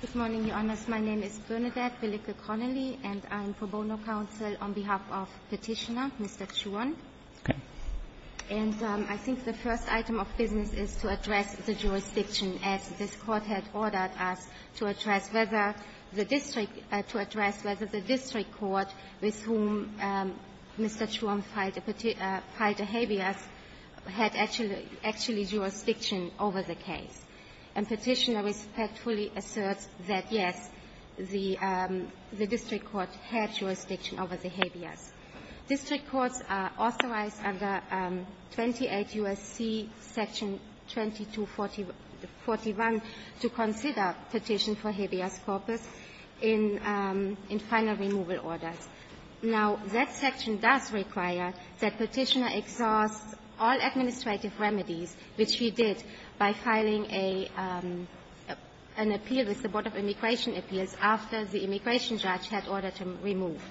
Good morning, Your Honours. My name is Bernadette Billick-O'Connolly and I am for Bono Council on behalf of Petitioner Mr. Chhuon, and I think the first item of business is to address the jurisdiction as this Court had ordered us to address whether the District Court with whom Mr. Chhuon filed a habeas had actually jurisdiction over the case. And Petitioner respectfully asserts that, yes, the District Court had jurisdiction over the habeas. District Courts are authorized under 28 U.S.C. Section 2241 to consider petition for habeas corpus in final removal orders. Now, that section does require that Petitioner exhaust all administrative remedies, which he did by filing a an appeal with the Board of Immigration Appeals after the immigration judge had ordered him removed.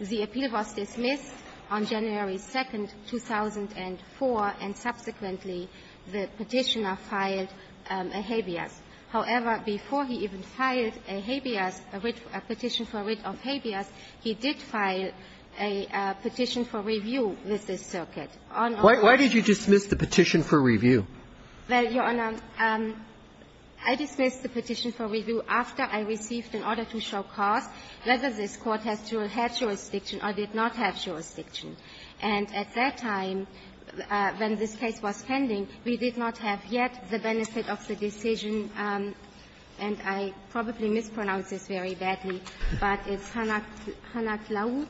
The appeal was dismissed on January 2, 2004, and subsequently the Petitioner filed a habeas. However, before he even filed a habeas, a petition for writ of habeas, he did file a petition for review with this circuit. Why did you dismiss the petition for review? Well, Your Honor, I dismissed the petition for review after I received an order to show cause whether this Court had jurisdiction or did not have jurisdiction. And at that time, when this case was pending, we did not have yet the benefit of the decision, and I probably mispronounced this very badly, but it's Hanak-Laut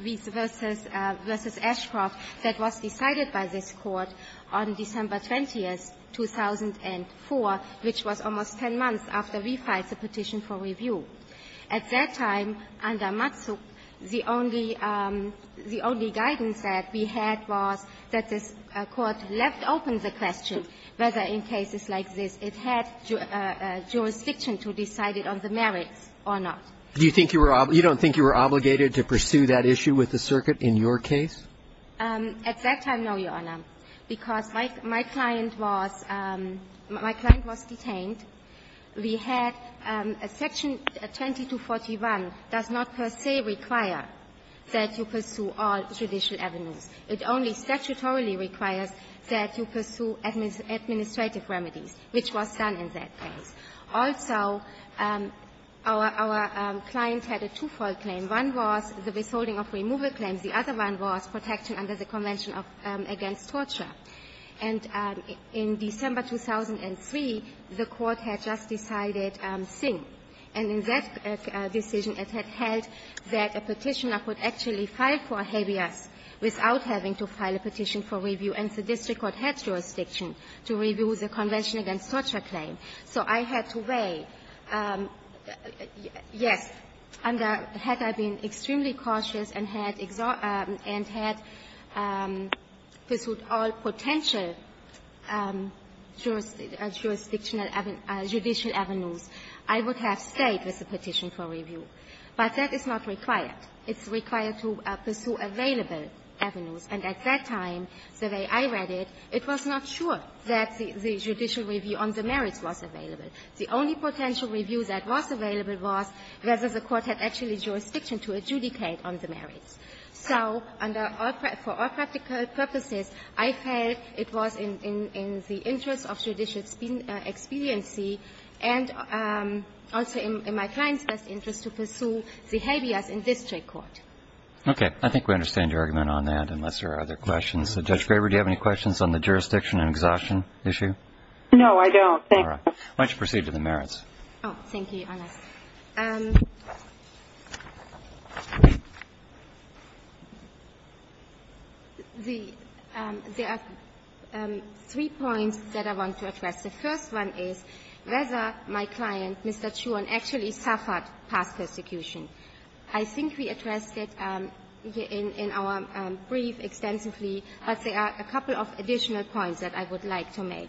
v. Ashcroft that was decided by this Court on December 20, 2004, which was almost 10 months after we filed the petition for review. At that time, under Matsuk, the only the only guidance that we had was that this Court left open the question whether in cases like this it had jurisdiction to decide it on the merits or not. Do you think you were you don't think you were obligated to pursue that issue with the circuit in your case? At that time, no, Your Honor, because my my client was my client was detained. We had a section 2241 does not per se require that you pursue all judicial avenues. It only statutorily requires that you pursue administrative remedies, which was done in that case. Also, our our client had a twofold claim. One was the withholding of removal claims. The other one was protection under the Convention of Against Torture. And in December 2003, the Court had just decided sin. And in that decision, it had held that a Petitioner could actually file for habeas without having to file a petition for review, and the district court had jurisdiction to review the Convention against Torture claim. So I had to weigh, yes, under had I been extremely cautious and had and had pursued all potential jurisdictional judicial avenues, I would have stayed with the Petition for review. But that is not required. It's required to pursue available avenues. And at that time, the way I read it, it was not sure that the judicial review on the Petition for review was available. The only potential review that was available was whether the Court had actually jurisdiction to adjudicate on the merits. So for all practical purposes, I felt it was in the interest of judicial expediency and also in my client's best interest to pursue the habeas in district court. Okay. I think we understand your argument on that, unless there are other questions. Judge Graber, do you have any questions on the jurisdiction and exhaustion issue? No, I don't. All right. Why don't you proceed to the merits. Oh, thank you, Your Honor. The three points that I want to address. The first one is whether my client, Mr. Chuon, actually suffered past persecution. I think we addressed it in our brief extensively, but there are a couple of additional points that I would like to make.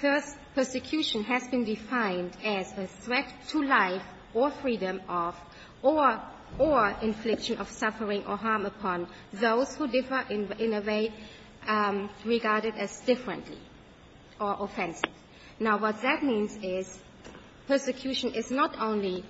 First, persecution has been defined as a threat to life or freedom of or infliction of suffering or harm upon those who differ in a way regarded as differently or offensive. Now, what that means is persecution is not only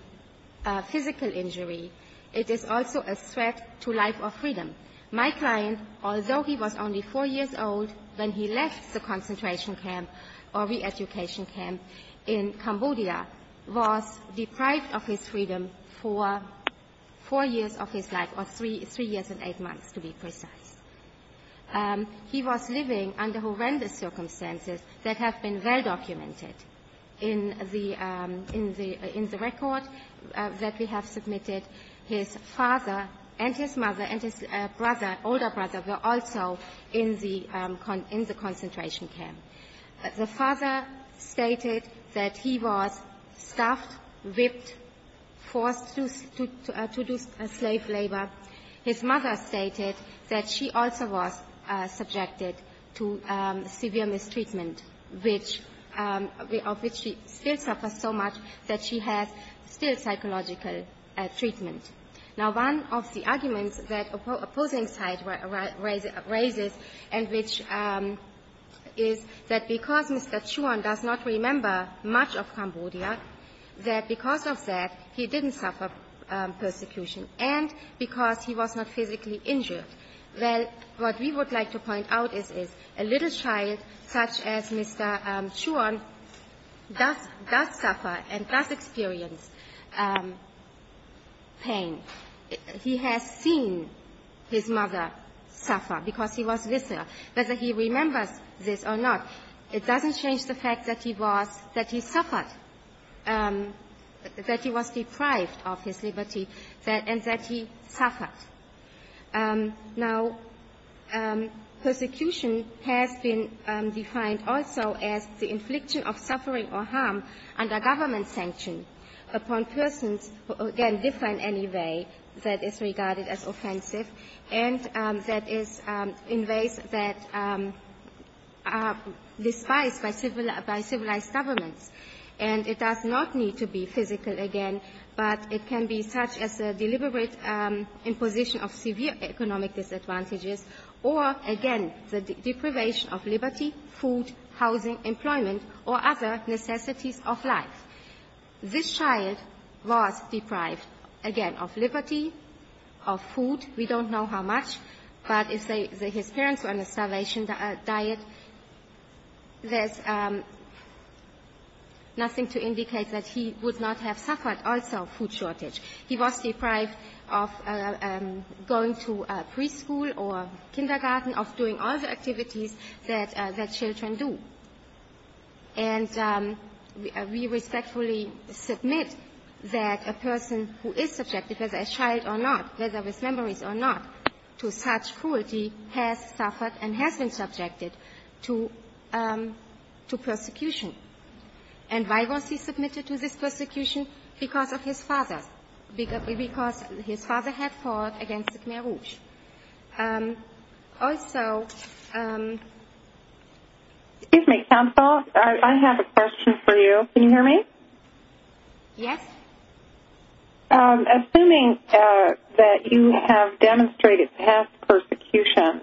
a physical injury. It is also a threat to life or freedom. My client, although he was only 4 years old when he left the concentration camp or reeducation camp in Cambodia, was deprived of his freedom for 4 years of his life, or 3 years and 8 months, to be precise. He was living under horrendous circumstances that have been well-documented in the record that we have submitted. His father and his mother and his brother, older brother, were also in the concentration camp. The father stated that he was stuffed, whipped, forced to do slave labor. His mother stated that she also was subjected to severe mistreatment, of which she still suffers so much that she has still psychological treatment. Now, one of the arguments that opposing side raises and which is that because Mr. Chuan does not remember much of Cambodia, that because of that, he didn't suffer persecution, and because he was not physically injured. Well, what we would like to point out is, is a little child such as Mr. Chuan does suffer and does experience pain. He has seen his mother suffer because he was visceral. Whether he remembers this or not, it doesn't change the fact that he was – that he suffered, that he was deprived of his liberty, and that he suffered. Now, persecution has been defined also as the infliction of suffering or harm under government sanction upon persons who, again, differ in any way that is regarded as offensive and that is in ways that are despised by civilized governments. And it does not need to be physical again, but it can be such as a deliberate imposition of severe economic disadvantages or, again, the deprivation of liberty, food, housing, employment, or other necessities of life. This child was deprived, again, of liberty, of food. We don't know how much, but his parents were on a starvation diet. There's nothing to indicate that he would not have suffered also food shortage. He was deprived of going to preschool or kindergarten, of doing all the activities that children do. And we respectfully submit that a person who is subjected, whether a child or not, whether with memories or not, to such cruelty has suffered and has been subjected to persecution. And why was he submitted to this persecution? Because of his father, because his father had fought against the Khmer Rouge. Also... Excuse me, counsel, I have a question for you. Can you hear me? Yes. Assuming that you have demonstrated past persecution,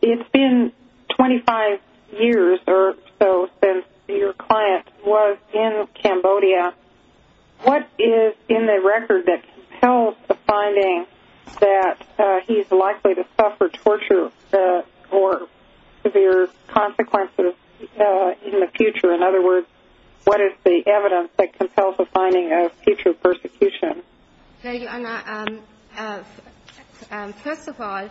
it's been 25 years or so since your client was in Cambodia, what is in the record that compels the finding that he's likely to suffer torture or severe consequences in the future? In other words, what is the evidence that compels the finding of future persecution? First of all,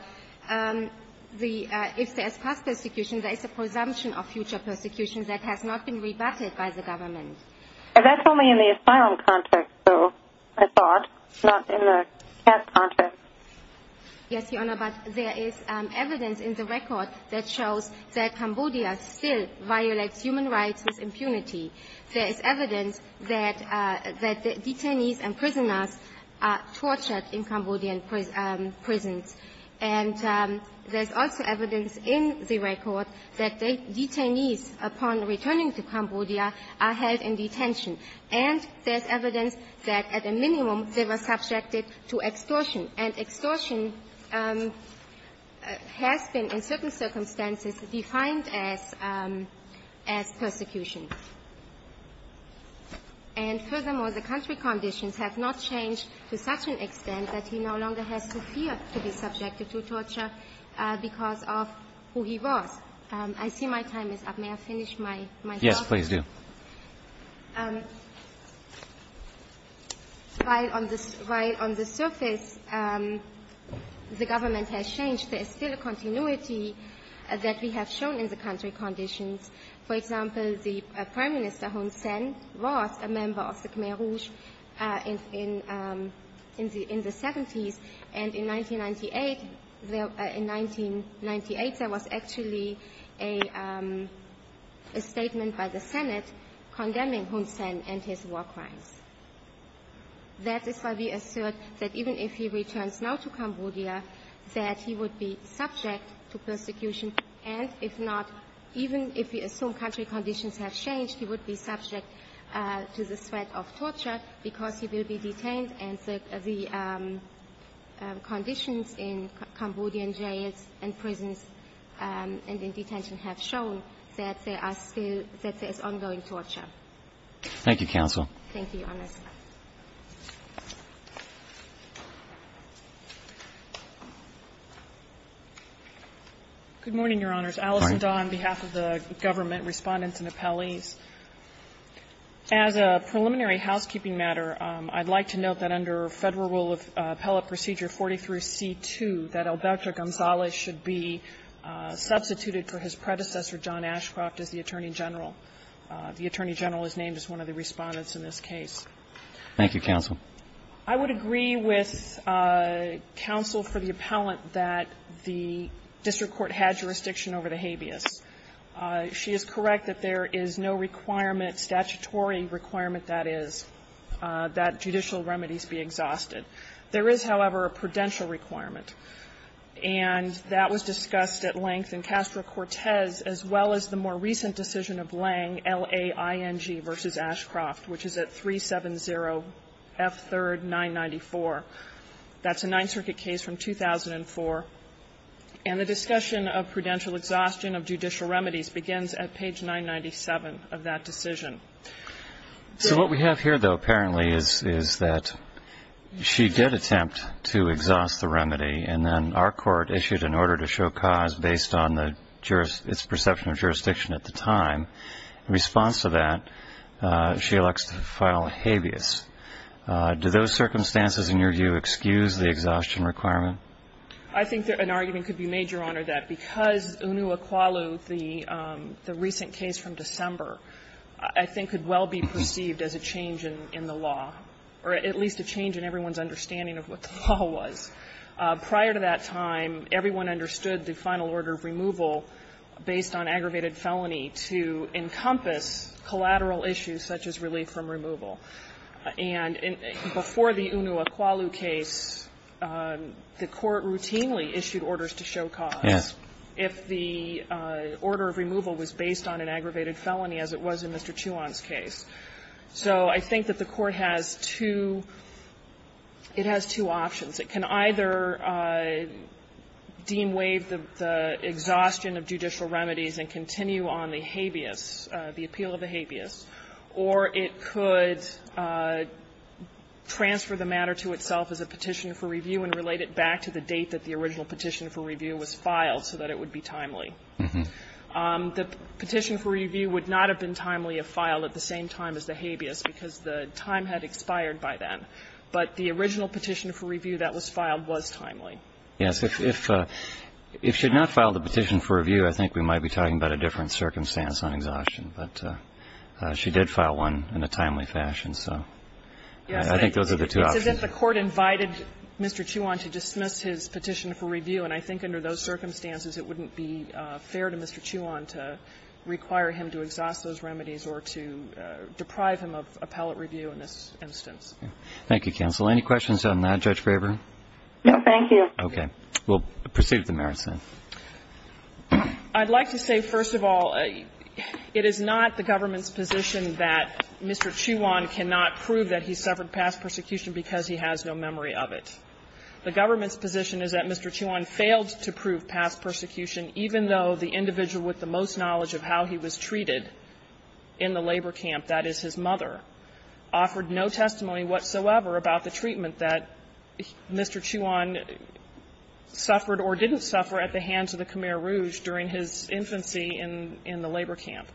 if there's past persecution, there is a presumption of future persecution that has not been rebutted by the government. That's only in the asylum contract, though, I thought, not in the past contract. Yes, Your Honor, but there is evidence in the record that shows that Cambodia still violates human rights with impunity. There is evidence that the detainees and prisoners are tortured in Cambodian prisons. And there's also evidence in the record that the detainees, upon returning to Cambodia, are held in detention. And there's evidence that, at a minimum, they were subjected to extortion. And extortion has been, in certain circumstances, defined as persecution. And furthermore, the country conditions have not changed to such an extent that he no longer has to fear to be subjected to torture because of who he was. I see my time is up. May I finish my question? Yes, please do. While on the surface, the government has changed, there is still a continuity that we have shown in the country conditions. For example, the Prime Minister Hun Sen was a member of the Khmer Rouge in the 70s. And in 1998, there was actually a statement by the Senate condemning Hun Sen and his war crimes. That is why we assert that even if he returns now to Cambodia, that he would be subject to persecution. And if not, even if we assume country conditions have changed, he would be subject to the threat of torture because he will be detained. And the conditions in Cambodian jails and prisons and in detention have shown that there are still ongoing torture. Thank you, Your Honor. Good morning, Your Honors. Alison Daw on behalf of the government, Respondents and Appellees. As a preliminary housekeeping matter, I'd like to note that under Federal Rule of Appellate Procedure 43C2, that Alberto Gonzalez should be substituted for his predecessor, John Ashcroft, as the Attorney General. The Attorney General is named as one of the Respondents in this case. Thank you, counsel. I would agree with counsel for the appellant that the district court had jurisdiction over the habeas. She is correct that there is no requirement, statutory requirement, that is, that judicial remedies be exhausted. There is, however, a prudential requirement, and that was discussed at length in Castro 970, F3, 994. That's a Ninth Circuit case from 2004. And the discussion of prudential exhaustion of judicial remedies begins at page 997 of that decision. So what we have here, though, apparently is that she did attempt to exhaust the remedy, and then our court issued an order to show cause based on its perception of jurisdiction at the time. In response to that, she elects to file a habeas. Do those circumstances, in your view, excuse the exhaustion requirement? I think an argument could be made, Your Honor, that because Unua-Kwalu, the recent case from December, I think could well be perceived as a change in the law, or at least a change in everyone's understanding of what the law was. Prior to that time, everyone understood the final order of removal based on aggravated felony to encompass collateral issues such as relief from removal. And before the Unua-Kwalu case, the Court routinely issued orders to show cause if the order of removal was based on an aggravated felony, as it was in Mr. Chiuan's case. So I think that the Court has two options. It can either deem waive the exhaustion of judicial remedies and continue on the habeas, the appeal of the habeas, or it could transfer the matter to itself as a petition for review and relate it back to the date that the original petition for review was filed so that it would be timely. The petition for review would not have been timely if filed at the same time as the exhaustion of judicial remedies. So I think that the Court has two options. It can either deem waive the exhaustion of judicial remedies and continue on the habeas, the appeal of the habeas, or it can transfer the matter to itself as a petition for review and relate it back to the date that the original petition for review was filed so that it would be timely. Thank you. Okay. We'll proceed with the merits then. I'd like to say, first of all, it is not the government's position that Mr. Chiuan cannot prove that he suffered past persecution because he has no memory of it. The government's position is that Mr. Chiuan failed to prove past persecution even though the individual with the most knowledge of how he was treated in the labor camp, that is, his mother, offered no testimony whatsoever about the treatment that Mr. Chiuan suffered or didn't suffer at the hands of the Khmer Rouge during his infancy in the labor camp.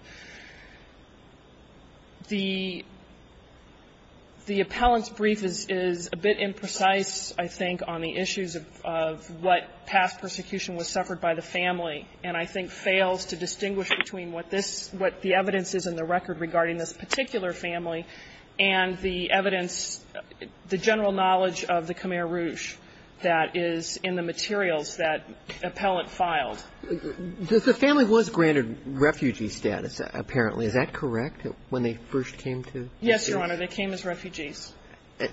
The appellant's brief is a bit imprecise, I think, on the issues of what past persecution was suffered by the family, and I think fails to distinguish between what this – what the evidence is in the record regarding this particular family and the evidence – the general knowledge of the Khmer Rouge that is in the materials that the appellant filed. The family was granted refugee status, apparently. Is that correct, when they first came to this case? Yes, Your Honor. They came as refugees.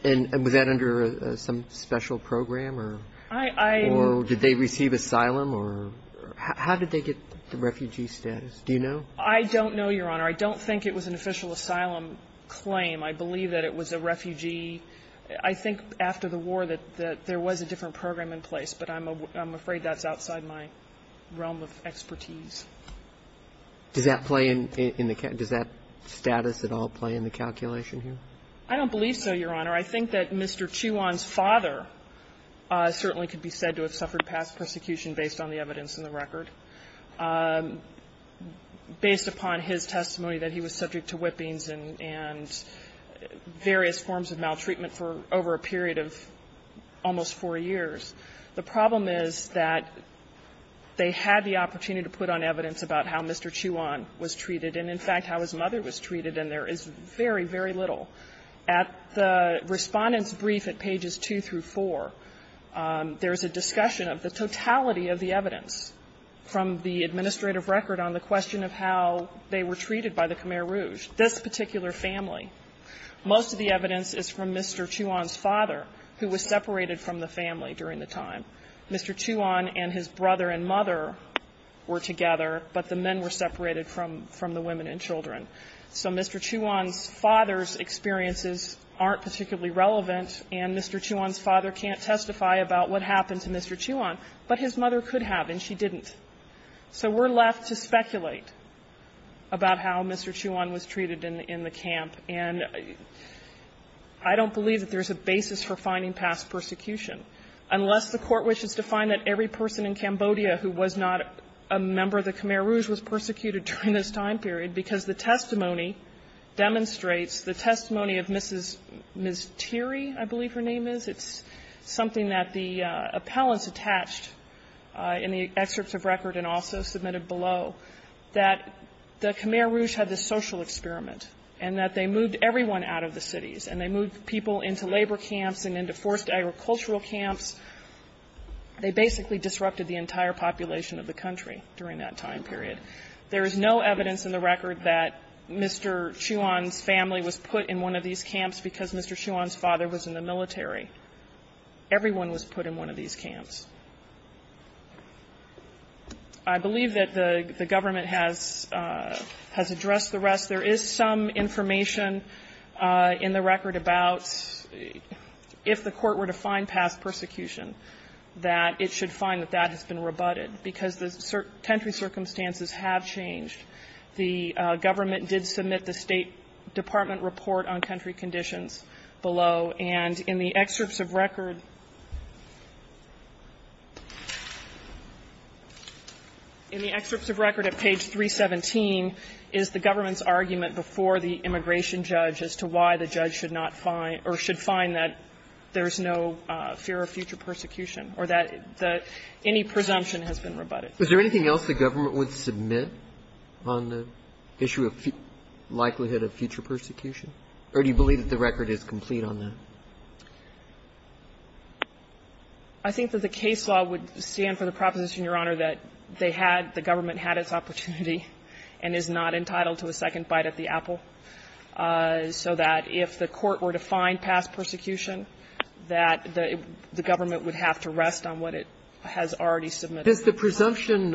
And was that under some special program or did they receive asylum or – how did they get the refugee status? Do you know? I don't know, Your Honor. I don't think it was an official asylum claim. I believe that it was a refugee. I think after the war that there was a different program in place, but I'm afraid that's outside my realm of expertise. Does that play in the – does that status at all play in the calculation here? I don't believe so, Your Honor. I think that Mr. Chiuan's father certainly could be said to have suffered past persecution based on the evidence in the record. Based upon his testimony that he was subject to whippings and various forms of maltreatment for over a period of almost four years. The problem is that they had the opportunity to put on evidence about how Mr. Chiuan was treated and, in fact, how his mother was treated, and there is very, very little. At the Respondent's brief at pages 2 through 4, there is a discussion of the totality of the evidence from the administrative record on the question of how they were treated by the Khmer Rouge, this particular family. Most of the evidence is from Mr. Chiuan's father, who was separated from the family during the time. Mr. Chiuan and his brother and mother were together, but the men were separated from the women and children. So Mr. Chiuan's father's experiences aren't particularly relevant, and Mr. Chiuan's mother could testify about what happened to Mr. Chiuan, but his mother could have, and she didn't. So we're left to speculate about how Mr. Chiuan was treated in the camp, and I don't believe that there's a basis for finding past persecution, unless the Court wishes to find that every person in Cambodia who was not a member of the Khmer Rouge was persecuted during this time period, because the testimony demonstrates the testimony of Mrs. Ms. Teary, I believe her name is. It's something that the appellants attached in the excerpts of record and also submitted below, that the Khmer Rouge had this social experiment, and that they moved everyone out of the cities, and they moved people into labor camps and into forced agricultural camps. They basically disrupted the entire population of the country during that time period. There is no evidence in the record that Mr. Chiuan's family was put in one of these camps because Mr. Chiuan's father was in the military. Everyone was put in one of these camps. I believe that the government has addressed the rest. There is some information in the record about if the Court were to find past persecution, that it should find that that has been rebutted, because the tertiary circumstances have changed. The government did submit the State Department report on country conditions below, and in the excerpts of record at page 317 is the government's argument before the immigration judge as to why the judge should not find or should find that there is no fear of future persecution or that any presumption has been rebutted. Was there anything else the government would submit on the issue of likelihood of future persecution? Or do you believe that the record is complete on that? I think that the case law would stand for the proposition, Your Honor, that they had the government had its opportunity and is not entitled to a second bite at the apple, so that if the Court were to find past persecution, that the government would have to rest on what it has already submitted. Does the presumption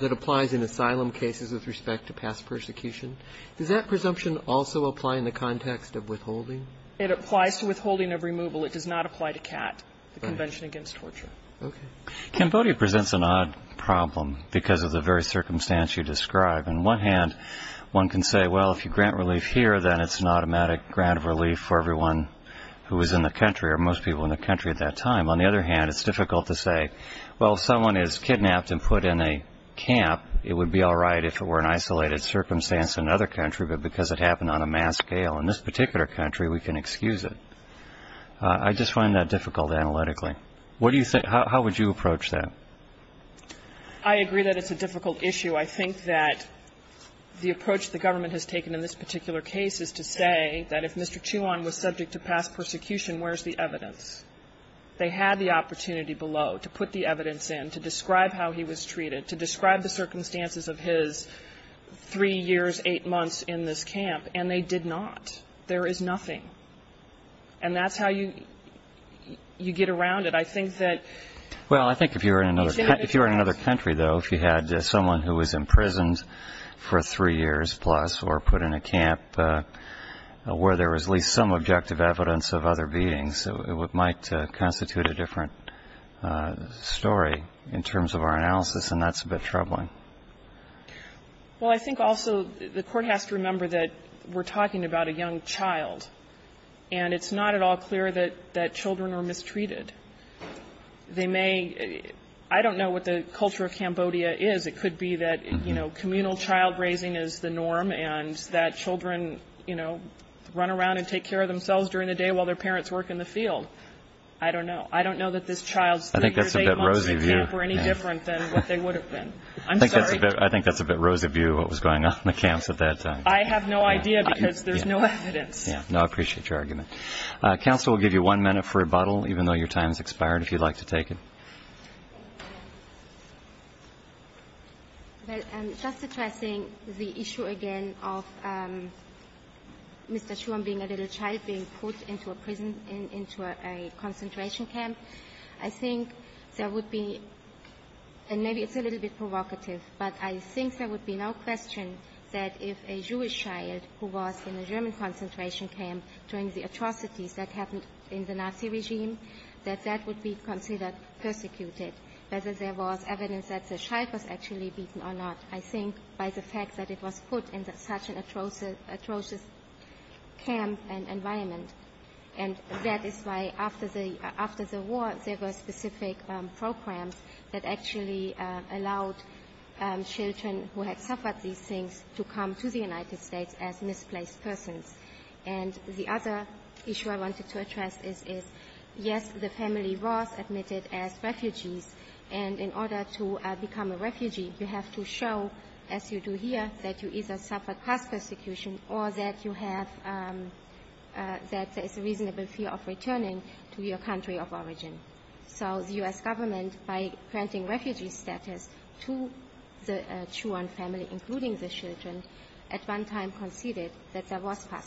that applies in asylum cases with respect to past persecution, does that presumption also apply in the context of withholding? It applies to withholding of removal. It does not apply to CAT, the Convention Against Torture. Okay. Cambodia presents an odd problem because of the very circumstance you describe. On one hand, one can say, well, if you grant relief here, then it's an automatic grant of relief for everyone who is in the country or most people in the country at that time. On the other hand, it's difficult to say, well, if someone is kidnapped and put in a camp, it would be all right if it were an isolated circumstance in another country, but because it happened on a mass scale in this particular country, we can excuse it. I just find that difficult analytically. What do you think? How would you approach that? I agree that it's a difficult issue. I think that the approach the government has taken in this particular case is to say that if Mr. Chiuan was subject to past persecution, where's the evidence? They had the opportunity below to put the evidence in, to describe how he was treated, to describe the circumstances of his three years, eight months in this camp, and they did not. There is nothing. And that's how you get around it. I think that... Well, I think if you were in another country, though, if you had someone who was imprisoned for three years plus or put in a camp where there was at least some subjective evidence of other beings, it might constitute a different story in terms of our analysis, and that's a bit troubling. Well, I think also the Court has to remember that we're talking about a young child, and it's not at all clear that children are mistreated. They may — I don't know what the culture of Cambodia is. It could be that, you know, communal child raising is the norm and that children, you know, run around and take care of themselves during the day while their parents work in the field. I don't know. I don't know that this child's three years, eight months in a camp were any different than what they would have been. I'm sorry. I think that's a bit rosy view of what was going on in the camps at that time. I have no idea because there's no evidence. Yeah. No, I appreciate your argument. Counsel will give you one minute for rebuttal, even though your time has expired, if you'd like to take it. Well, I'm just addressing the issue again of Mr. Schuon being a little child being put into a prison, into a concentration camp. I think there would be — and maybe it's a little bit provocative, but I think there would be no question that if a Jewish child who was in a German concentration camp during the atrocities that happened in the Nazi regime, that that would be considered persecuted, whether there was evidence that the child was actually beaten or not, I think by the fact that it was put in such an atrocious camp and environment. And that is why, after the war, there were specific programs that actually allowed children who had suffered these things to come to the United States as misplaced persons. And the other issue I wanted to address is, yes, the family was admitted as refugees, and in order to become a refugee, you have to show, as you do here, that you either suffered class persecution or that you have — that there's a reasonable fear of returning to your country of origin. So the U.S. Government, by granting refugee status to the Schuon family, including the children, at one time conceded that there was class persecution.